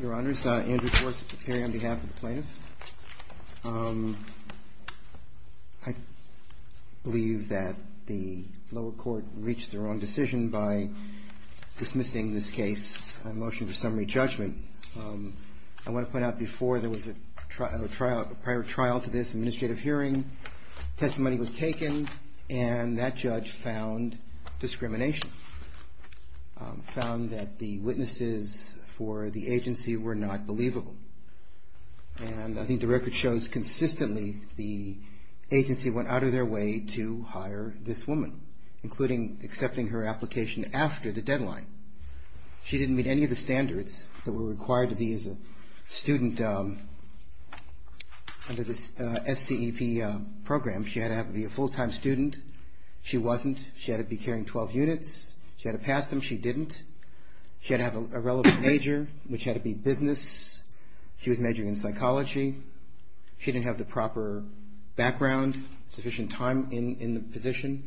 Your Honors, Andrew Schwartz at the hearing on behalf of the plaintiff. I believe that the lower court reached their own decision by dismissing this case. I motion for summary judgment. I want to point out before there was a prior trial to this administrative hearing. Testimony was taken and that judge found discrimination. Found that the witnesses for the agency were not believable. And I think the record shows consistently the agency went out of their way to hire this woman, including accepting her application after the deadline. She didn't meet any of the standards that were required to be a student under this SCEP program. She had to be a full-time student. She wasn't. She had to be carrying 12 units. She had to pass them. She didn't. She had to have a relevant major, which had to be business. She was majoring in psychology. She didn't have the proper background, sufficient time in the position.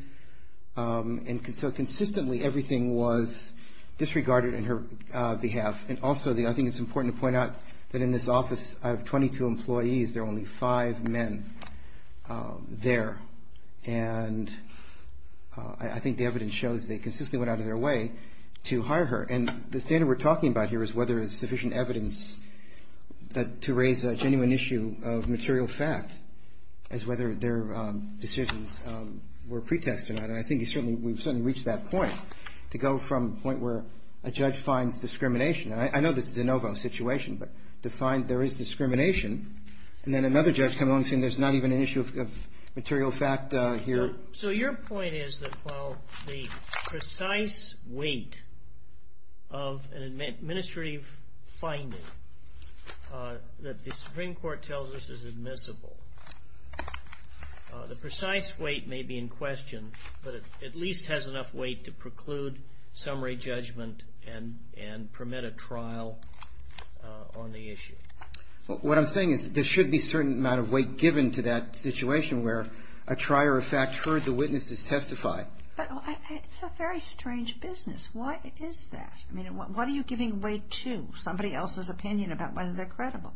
And so consistently everything was disregarded on her behalf. And also I think it's important to point out that in this office out of 22 employees, there are only five men there. And I think the evidence shows they consistently went out of their way to hire her. And the standard we're talking about here is whether there's sufficient evidence to raise a genuine issue of material fact as whether their decisions were pretested on. And I think we've certainly reached that point, to go from the point where a judge finds discrimination. And I know this is a de novo situation, but to find there is discrimination, and then another judge comes along saying there's not even an issue of material fact here. So your point is that while the precise weight of an administrative finding that the Supreme Court tells us is admissible, the precise weight may be in question, but it at least has enough weight to preclude summary judgment and permit a trial on the issue. What I'm saying is there should be a certain amount of weight given to that situation where a trier of fact heard the witnesses testify. But it's a very strange business. Why is that? I mean, what are you giving weight to? Somebody else's opinion about whether they're credible.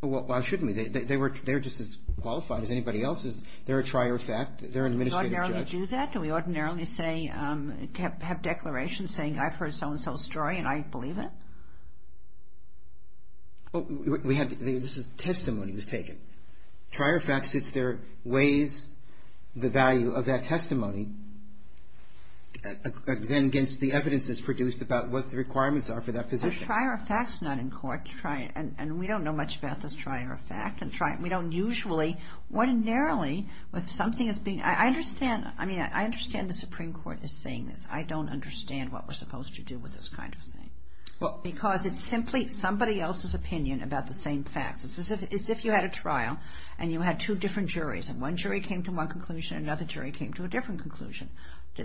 Why shouldn't we? They were just as qualified as anybody else. They're a trier of fact. They're an administrative judge. Do we ordinarily do that? Do we ordinarily say, have declarations saying I've heard so-and-so's story and I believe it? This is testimony that was taken. Trier of fact sits there, weighs the value of that testimony, then against the evidence that's produced about what the requirements are for that position. A trier of fact's not in court. And we don't know much about this trier of fact. That's right. We don't usually. Ordinarily, if something is being – I understand – I mean, I understand the Supreme Court is saying this. I don't understand what we're supposed to do with this kind of thing. Because it's simply somebody else's opinion about the same facts. It's as if you had a trial and you had two different juries, and one jury came to one conclusion and another jury came to a different conclusion.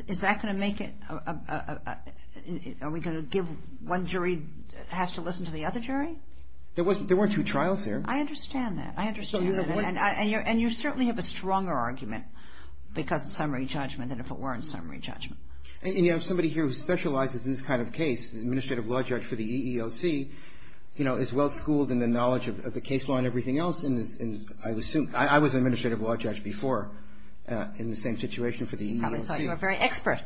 Is that going to make it – are we going to give one jury has to listen to the other jury? There weren't two trials there. I understand that. I understand that. And you certainly have a stronger argument because of summary judgment than if it weren't summary judgment. And you have somebody here who specializes in this kind of case, the administrative law judge for the EEOC, is well-schooled in the knowledge of the case law and everything else. And I assume – I was an administrative law judge before in the same situation for the EEOC. You probably thought you were very expert.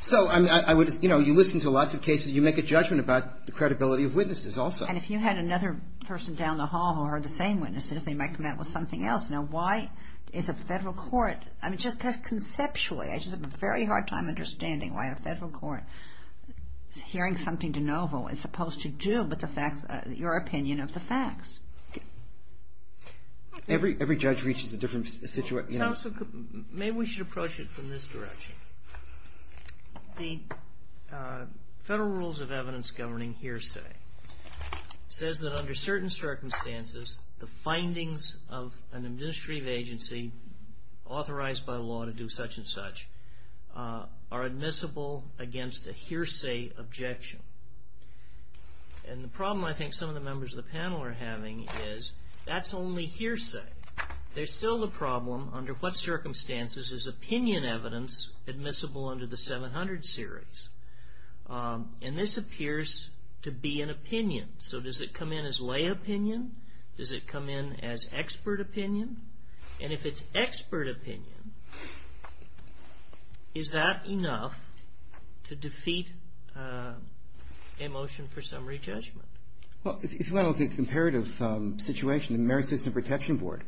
So I would – you listen to lots of cases. You make a judgment about the credibility of witnesses also. And if you had another person down the hall who heard the same witnesses, they might come out with something else. Now, why is a federal court – I mean, just conceptually, I just have a very hard time understanding why a federal court hearing something de novo is supposed to do but your opinion of the facts. Every judge reaches a different situation. Counsel, maybe we should approach it from this direction. The Federal Rules of Evidence Governing Hearsay says that under certain circumstances, the findings of an administrative agency authorized by law to do such and such are admissible against a hearsay objection. And the problem I think some of the members of the panel are having is that's only hearsay. There's still the problem under what circumstances is opinion evidence admissible under the 700 series. And this appears to be an opinion. So does it come in as lay opinion? Does it come in as expert opinion? And if it's expert opinion, is that enough to defeat a motion for summary judgment? Well, if you want to look at the comparative situation, the Merit System Protection Board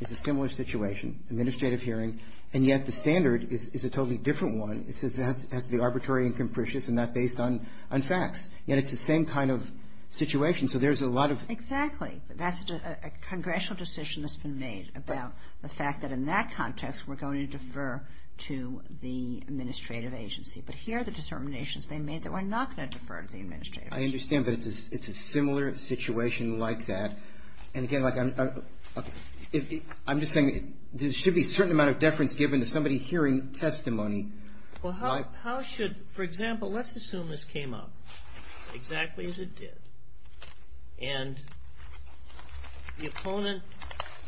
is a similar situation, administrative hearing. And yet the standard is a totally different one. It says it has to be arbitrary and capricious and not based on facts. Yet it's the same kind of situation. So there's a lot of – Exactly. That's a congressional decision that's been made about the fact that in that context, we're going to defer to the administrative agency. But here are the determinations being made that we're not going to defer to the administrative agency. I understand that it's a similar situation like that. And, again, like I'm just saying there should be a certain amount of deference given to somebody hearing testimony. Well, how should – for example, let's assume this came up exactly as it did. And the opponent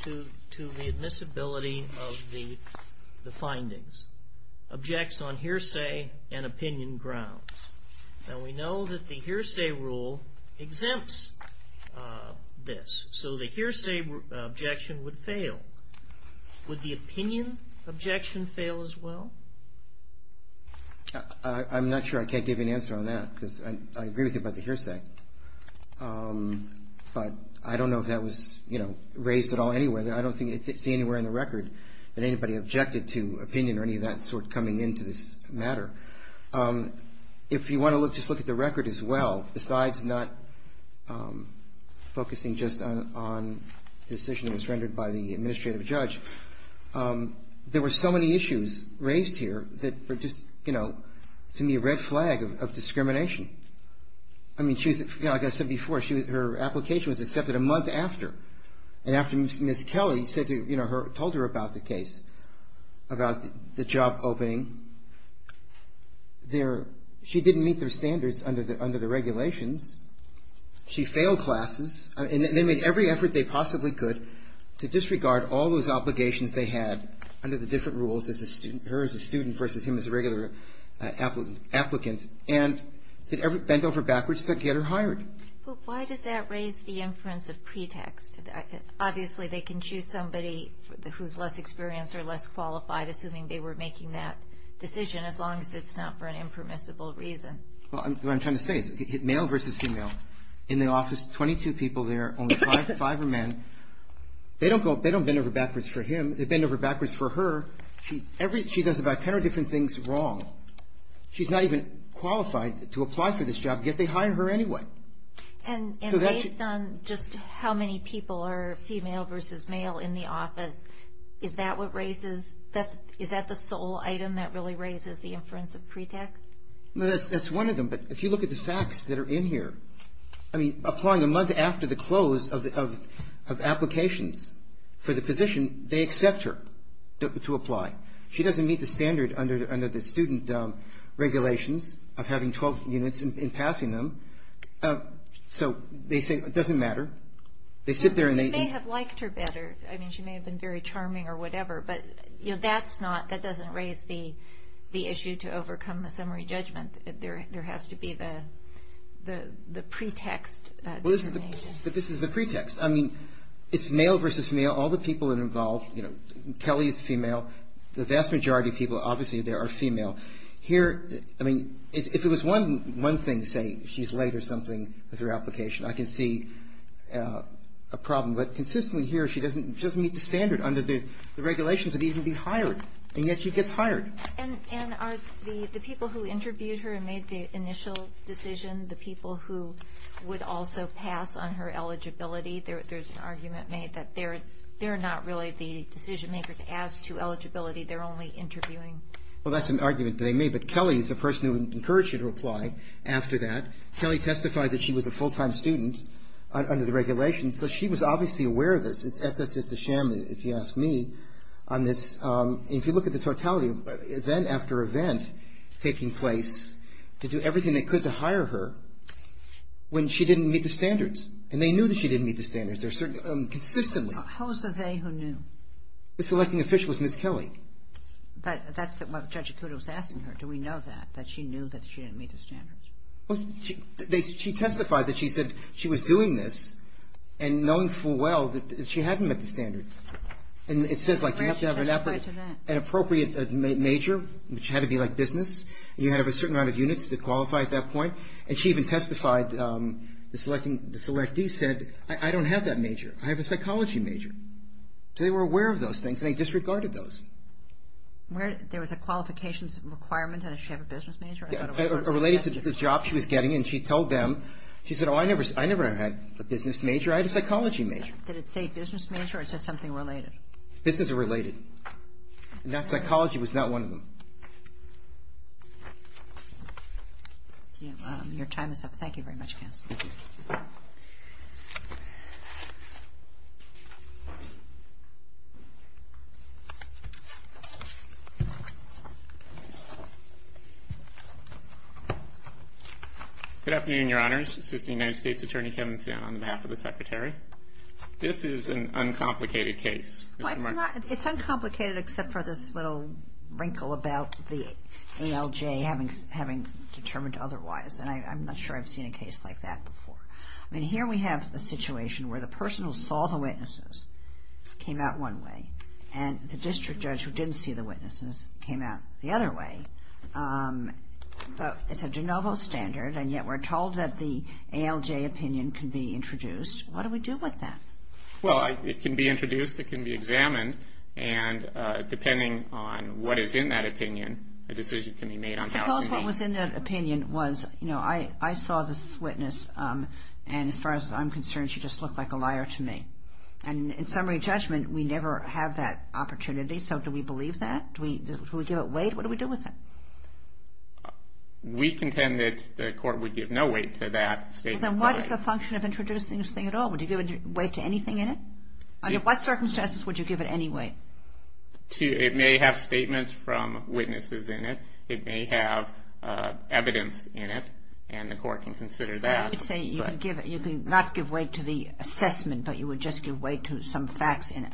to the admissibility of the findings objects on hearsay and opinion grounds. Now, we know that the hearsay rule exempts this. So the hearsay objection would fail. Would the opinion objection fail as well? I'm not sure I can't give you an answer on that because I agree with you about the hearsay. But I don't know if that was raised at all anywhere. I don't see anywhere in the record that anybody objected to opinion or any of that sort coming into this matter. If you want to look, just look at the record as well. Besides not focusing just on the decision that was rendered by the administrative judge, there were so many issues raised here that were just, you know, to me a red flag of discrimination. I mean, like I said before, her application was accepted a month after. And after Ms. Kelly said to, you know, told her about the case, about the job opening, she didn't meet their standards under the regulations. She failed classes. And they made every effort they possibly could to disregard all those obligations they had under the different rules, her as a student versus him as a regular applicant, and bent over backwards to get her hired. Why does that raise the inference of pretext? Obviously, they can choose somebody who's less experienced or less qualified, assuming they were making that decision, as long as it's not for an impermissible reason. Well, what I'm trying to say is male versus female. In the office, 22 people there, only five are men. They don't bend over backwards for him. They bend over backwards for her. She does about 10 or different things wrong. She's not even qualified to apply for this job, yet they hire her anyway. And based on just how many people are female versus male in the office, is that the sole item that really raises the inference of pretext? That's one of them, but if you look at the facts that are in here, I mean, applying a month after the close of applications for the position, they accept her to apply. She doesn't meet the standard under the student regulations of having 12 units and passing them. So they say it doesn't matter. They sit there and they – They may have liked her better. I mean, she may have been very charming or whatever, but that doesn't raise the issue to overcome the summary judgment. There has to be the pretext. But this is the pretext. I mean, it's male versus male. All the people that are involved, you know, Kelly is female. The vast majority of people obviously there are female. Here, I mean, if it was one thing, say, she's late or something with her application, I can see a problem. But consistently here, she doesn't meet the standard under the regulations of even being hired, and yet she gets hired. And are the people who interviewed her and made the initial decision, the people who would also pass on her eligibility, there's an argument made that they're not really the decision-makers as to eligibility. They're only interviewing. Well, that's an argument they made. But Kelly is the person who encouraged her to apply after that. Kelly testified that she was a full-time student under the regulations, so she was obviously aware of this. It's just a sham, if you ask me, on this. If you look at the totality of event after event taking place to do everything they could to hire her when she didn't meet the standards. And they knew that she didn't meet the standards consistently. How was the they who knew? The selecting official was Ms. Kelly. But that's what Judge Acuda was asking her. Do we know that, that she knew that she didn't meet the standards? Well, she testified that she said she was doing this and knowing full well that she hadn't met the standards. And it says, like, you have to have an appropriate major, which had to be, like, business, and you had to have a certain amount of units to qualify at that point. And she even testified, the selectee said, I don't have that major. I have a psychology major. So they were aware of those things, and they disregarded those. There was a qualifications requirement, and did she have a business major? Yeah, or related to the job she was getting. And she told them, she said, oh, I never had a business major. I had a psychology major. Did it say business major, or it said something related? Business or related. And that psychology was not one of them. Thank you. Your time is up. Thank you very much, counsel. Good afternoon, Your Honors. Assistant United States Attorney Kevin Finn on behalf of the Secretary. This is an uncomplicated case. It's uncomplicated except for this little wrinkle about the ALJ having determined otherwise. And I'm not sure I've seen a case like that before. I mean, here we have a situation where the person who saw the witnesses came out one way, and the district judge who didn't see the witnesses came out the other way. It's a de novo standard, and yet we're told that the ALJ opinion can be introduced. What do we do with that? Well, it can be introduced. It can be examined. And depending on what is in that opinion, a decision can be made on how to meet. Because what was in that opinion was, you know, I saw this witness, and as far as I'm concerned she just looked like a liar to me. And in summary judgment, we never have that opportunity. So do we believe that? Do we give it weight? What do we do with it? We contend that the court would give no weight to that statement. Well, then what is the function of introducing this thing at all? Would you give weight to anything in it? Under what circumstances would you give it any weight? It may have statements from witnesses in it. It may have evidence in it, and the court can consider that. So you would say you could not give weight to the assessment, but you would just give weight to some facts in it.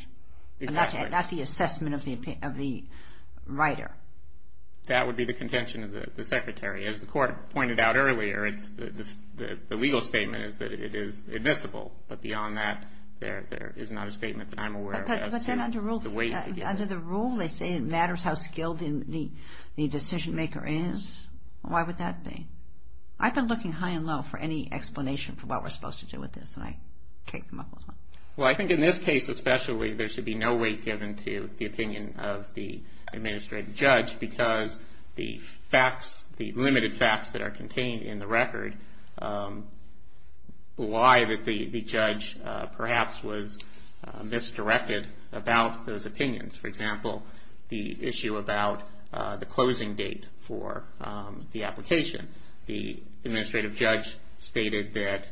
Exactly. Not the assessment of the writer. That would be the contention of the secretary. As the court pointed out earlier, the legal statement is that it is admissible. But beyond that, there is not a statement that I'm aware of. But then under the rule they say it matters how skilled the decision maker is. Why would that be? I've been looking high and low for any explanation for what we're supposed to do with this, and I can't come up with one. Well, I think in this case especially, there should be no weight given to the opinion of the administrative judge because the facts, the limited facts that are contained in the record, lie that the judge perhaps was misdirected about those opinions. For example, the issue about the closing date for the application. The administrative judge stated that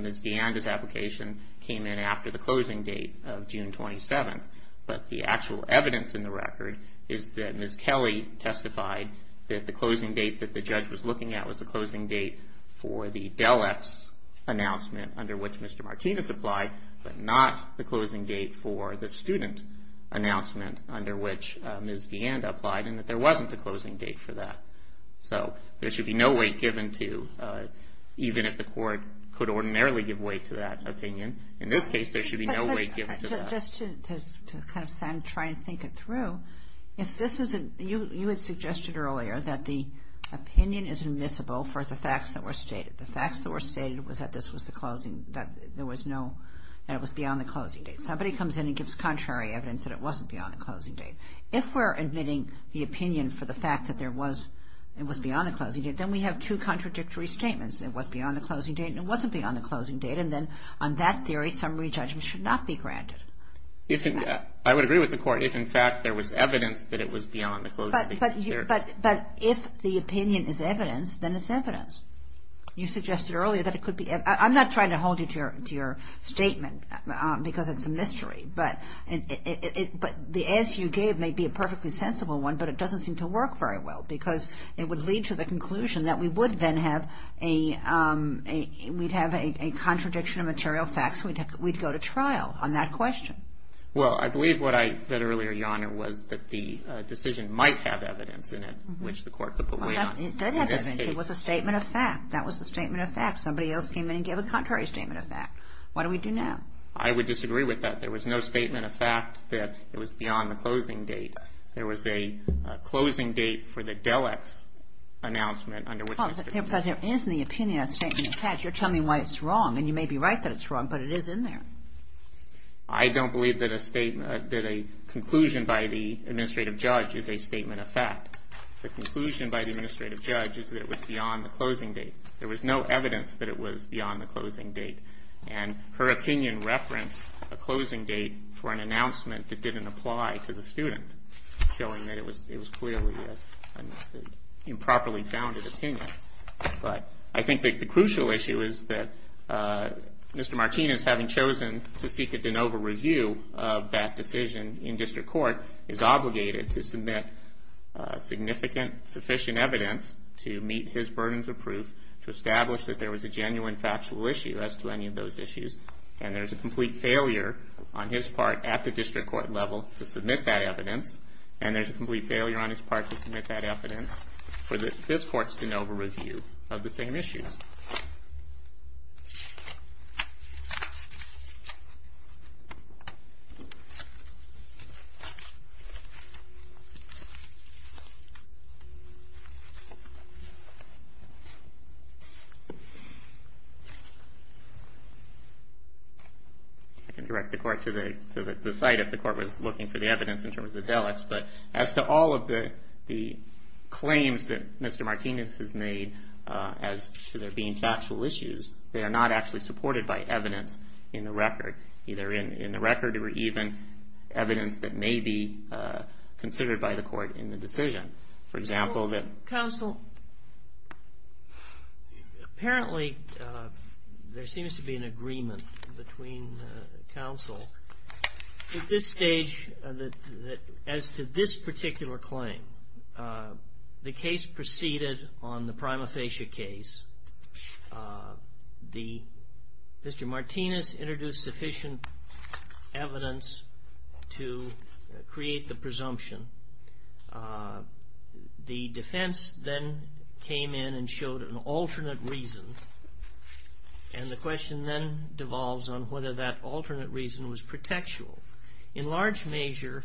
Ms. DeAnda's application came in after the closing date of June 27th, but the actual evidence in the record is that Ms. Kelly testified that the closing date that the judge was looking at was the closing date for the DelEx announcement under which Mr. Martinez applied, but not the closing date for the student announcement under which Ms. DeAnda applied, and that there wasn't a closing date for that. So there should be no weight given to, even if the court could ordinarily give weight to that opinion. In this case, there should be no weight given to that. Just to kind of try and think it through, if this isn't, you had suggested earlier that the opinion is admissible for the facts that were stated. The facts that were stated was that this was the closing, that there was no, that it was beyond the closing date. Somebody comes in and gives contrary evidence that it wasn't beyond the closing date. If we're admitting the opinion for the fact that there was, it was beyond the closing date, then we have two contradictory statements. It was beyond the closing date and it wasn't beyond the closing date, and then on that theory, summary judgment should not be granted. I would agree with the court if, in fact, there was evidence that it was beyond the closing date. But if the opinion is evidence, then it's evidence. You suggested earlier that it could be. I'm not trying to hold you to your statement because it's a mystery, but the answer you gave may be a perfectly sensible one, but it doesn't seem to work very well because it would lead to the conclusion that we would then have a contradiction of material facts. We'd go to trial on that question. Well, I believe what I said earlier, Your Honor, was that the decision might have evidence in it which the court could put weight on. It did have evidence. It was a statement of fact. That was the statement of fact. Somebody else came in and gave a contrary statement of fact. What do we do now? I would disagree with that. There was no statement of fact that it was beyond the closing date. There was a closing date for the DELEX announcement under which Mr. King... But there is in the opinion a statement of fact. You're telling me why it's wrong. And you may be right that it's wrong, but it is in there. I don't believe that a statement – that a conclusion by the administrative judge is a statement of fact. The conclusion by the administrative judge is that it was beyond the closing date. There was no evidence that it was beyond the closing date. And her opinion referenced a closing date for an announcement that didn't apply to the student, showing that it was clearly an improperly founded opinion. But I think the crucial issue is that Mr. Martinez, having chosen to seek a de novo review of that decision in district court, is obligated to submit significant sufficient evidence to meet his burdens of proof to establish that there was a genuine factual issue as to any of those issues. And there's a complete failure on his part at the district court level to submit that evidence. And there's a complete failure on his part to submit that evidence for this court's de novo review of the same issues. I can direct the court to the site if the court was looking for the evidence in terms of the delicts. But as to all of the claims that Mr. Martinez has made as to there being factual issues, they are not actually supported by evidence in the record, either in the record or even evidence that may be considered by the court in the decision. For example, the – Counsel. Counsel, apparently there seems to be an agreement between counsel at this stage that as to this particular claim, the case proceeded on the prima facie case. The – Mr. Martinez introduced sufficient evidence to create the presumption. The defense then came in and showed an alternate reason. And the question then devolves on whether that alternate reason was pretextual. In large measure,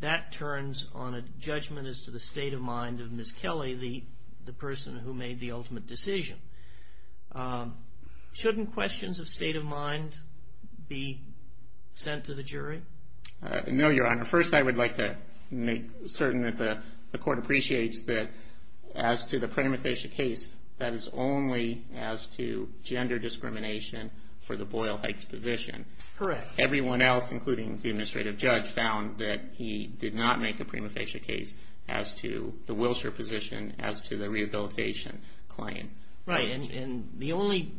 that turns on a judgment as to the state of mind of Ms. Kelly, the person who made the ultimate decision. Shouldn't questions of state of mind be sent to the jury? No, Your Honor. First, I would like to make certain that the court appreciates that as to the prima facie case, that is only as to gender discrimination for the Boyle-Hikes position. Correct. Everyone else, including the administrative judge, found that he did not make a prima facie case as to the Wilshire position, as to the rehabilitation claim. Right. And the only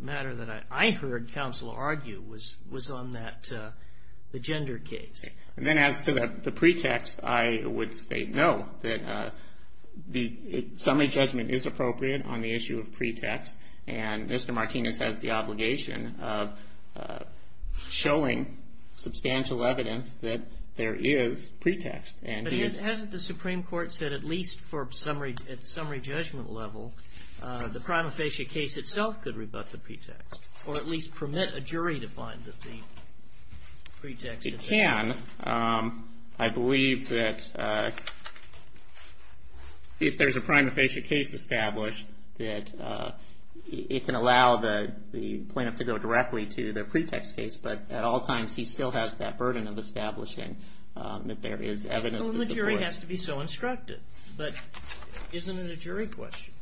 matter that I heard counsel argue was on that – the gender case. Then as to the pretext, I would state no, that the summary judgment is appropriate on the issue of pretext. And Mr. Martinez has the obligation of showing substantial evidence that there is pretext. But hasn't the Supreme Court said at least for summary judgment level, the prima facie case itself could rebut the pretext or at least permit a jury to find that the pretext is there? It can. I believe that if there's a prima facie case established, that it can allow the plaintiff to go directly to the pretext case. But at all times, he still has that burden of establishing that there is evidence to support. Well, the jury has to be so instructed. But isn't it a jury question?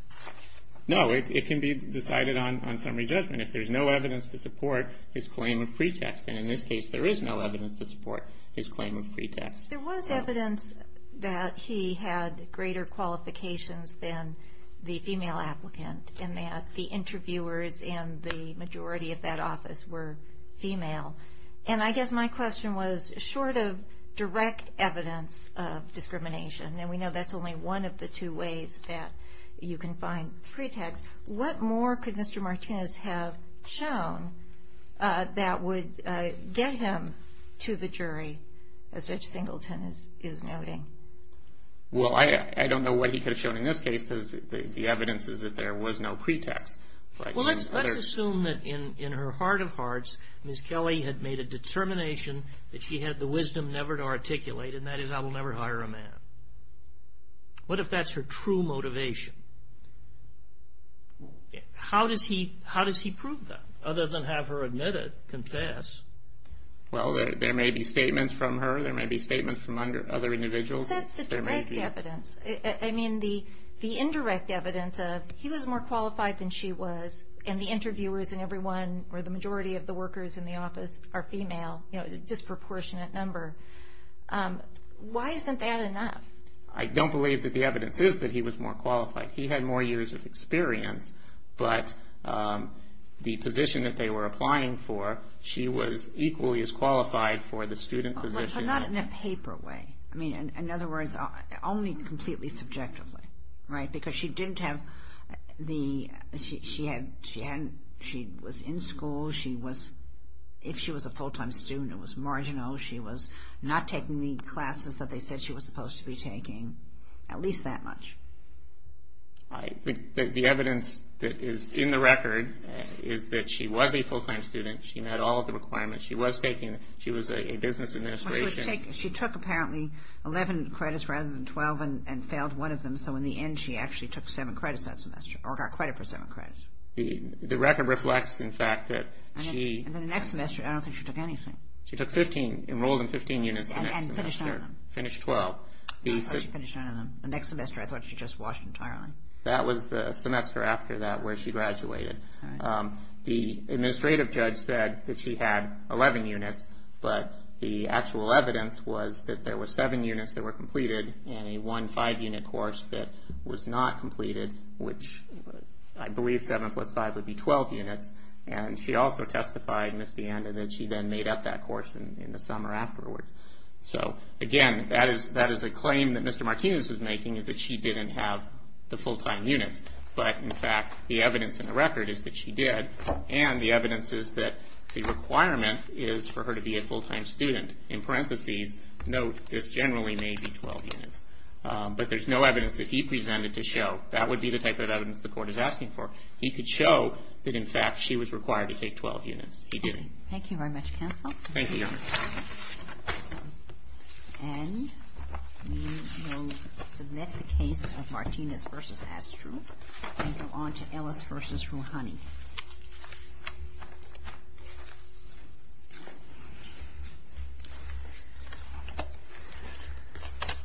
No, it can be decided on summary judgment. If there's no evidence to support his claim of pretext, then in this case there is no evidence to support his claim of pretext. There was evidence that he had greater qualifications than the female applicant and that the interviewers in the majority of that office were female. And I guess my question was, short of direct evidence of discrimination, and we know that's only one of the two ways that you can find pretext, what more could Mr. Martinez have shown that would get him to the jury, as Judge Singleton is noting? Well, I don't know what he could have shown in this case because the evidence is that there was no pretext. Well, let's assume that in her heart of hearts, Ms. Kelly had made a determination that she had the wisdom never to articulate, and that is, I will never hire a man. What if that's her true motivation? How does he prove that, other than have her admit it, confess? Well, there may be statements from her. There may be statements from other individuals. That's the direct evidence. I mean, the indirect evidence of he was more qualified than she was, and the interviewers in every one or the majority of the workers in the office are female, a disproportionate number. Why isn't that enough? I don't believe that the evidence is that he was more qualified. He had more years of experience, but the position that they were applying for, she was equally as qualified for the student position. But not in a paper way. I mean, in other words, only completely subjectively, right? Because she didn't have the, she was in school. If she was a full-time student, it was marginal. She was not taking the classes that they said she was supposed to be taking, at least that much. I think that the evidence that is in the record is that she was a full-time student. She met all of the requirements. She was taking, she was a business administration. She took, apparently, 11 credits rather than 12 and failed one of them, so in the end she actually took seven credits that semester, or got credit for seven credits. The record reflects, in fact, that she. And then the next semester, I don't think she took anything. She took 15, enrolled in 15 units the next semester. And finished none of them. Finished 12. I thought she finished none of them. The next semester I thought she just washed entirely. That was the semester after that where she graduated. All right. The administrative judge said that she had 11 units, but the actual evidence was that there were seven units that were completed in a one five-unit course that was not completed, which I believe seven plus five would be 12 units. And she also testified, missed the end, and that she then made up that course in the summer afterward. So, again, that is a claim that Mr. Martinez is making, is that she didn't have the full-time units. But, in fact, the evidence in the record is that she did. And the evidence is that the requirement is for her to be a full-time student. In parentheses, note, this generally may be 12 units. But there's no evidence that he presented to show that would be the type of evidence the court is asking for. He could show that, in fact, she was required to take 12 units. He didn't. Thank you very much, counsel. Thank you, Your Honor. And we will submit the case of Martinez v. Astrup and go on to Ellis v. Rouhani.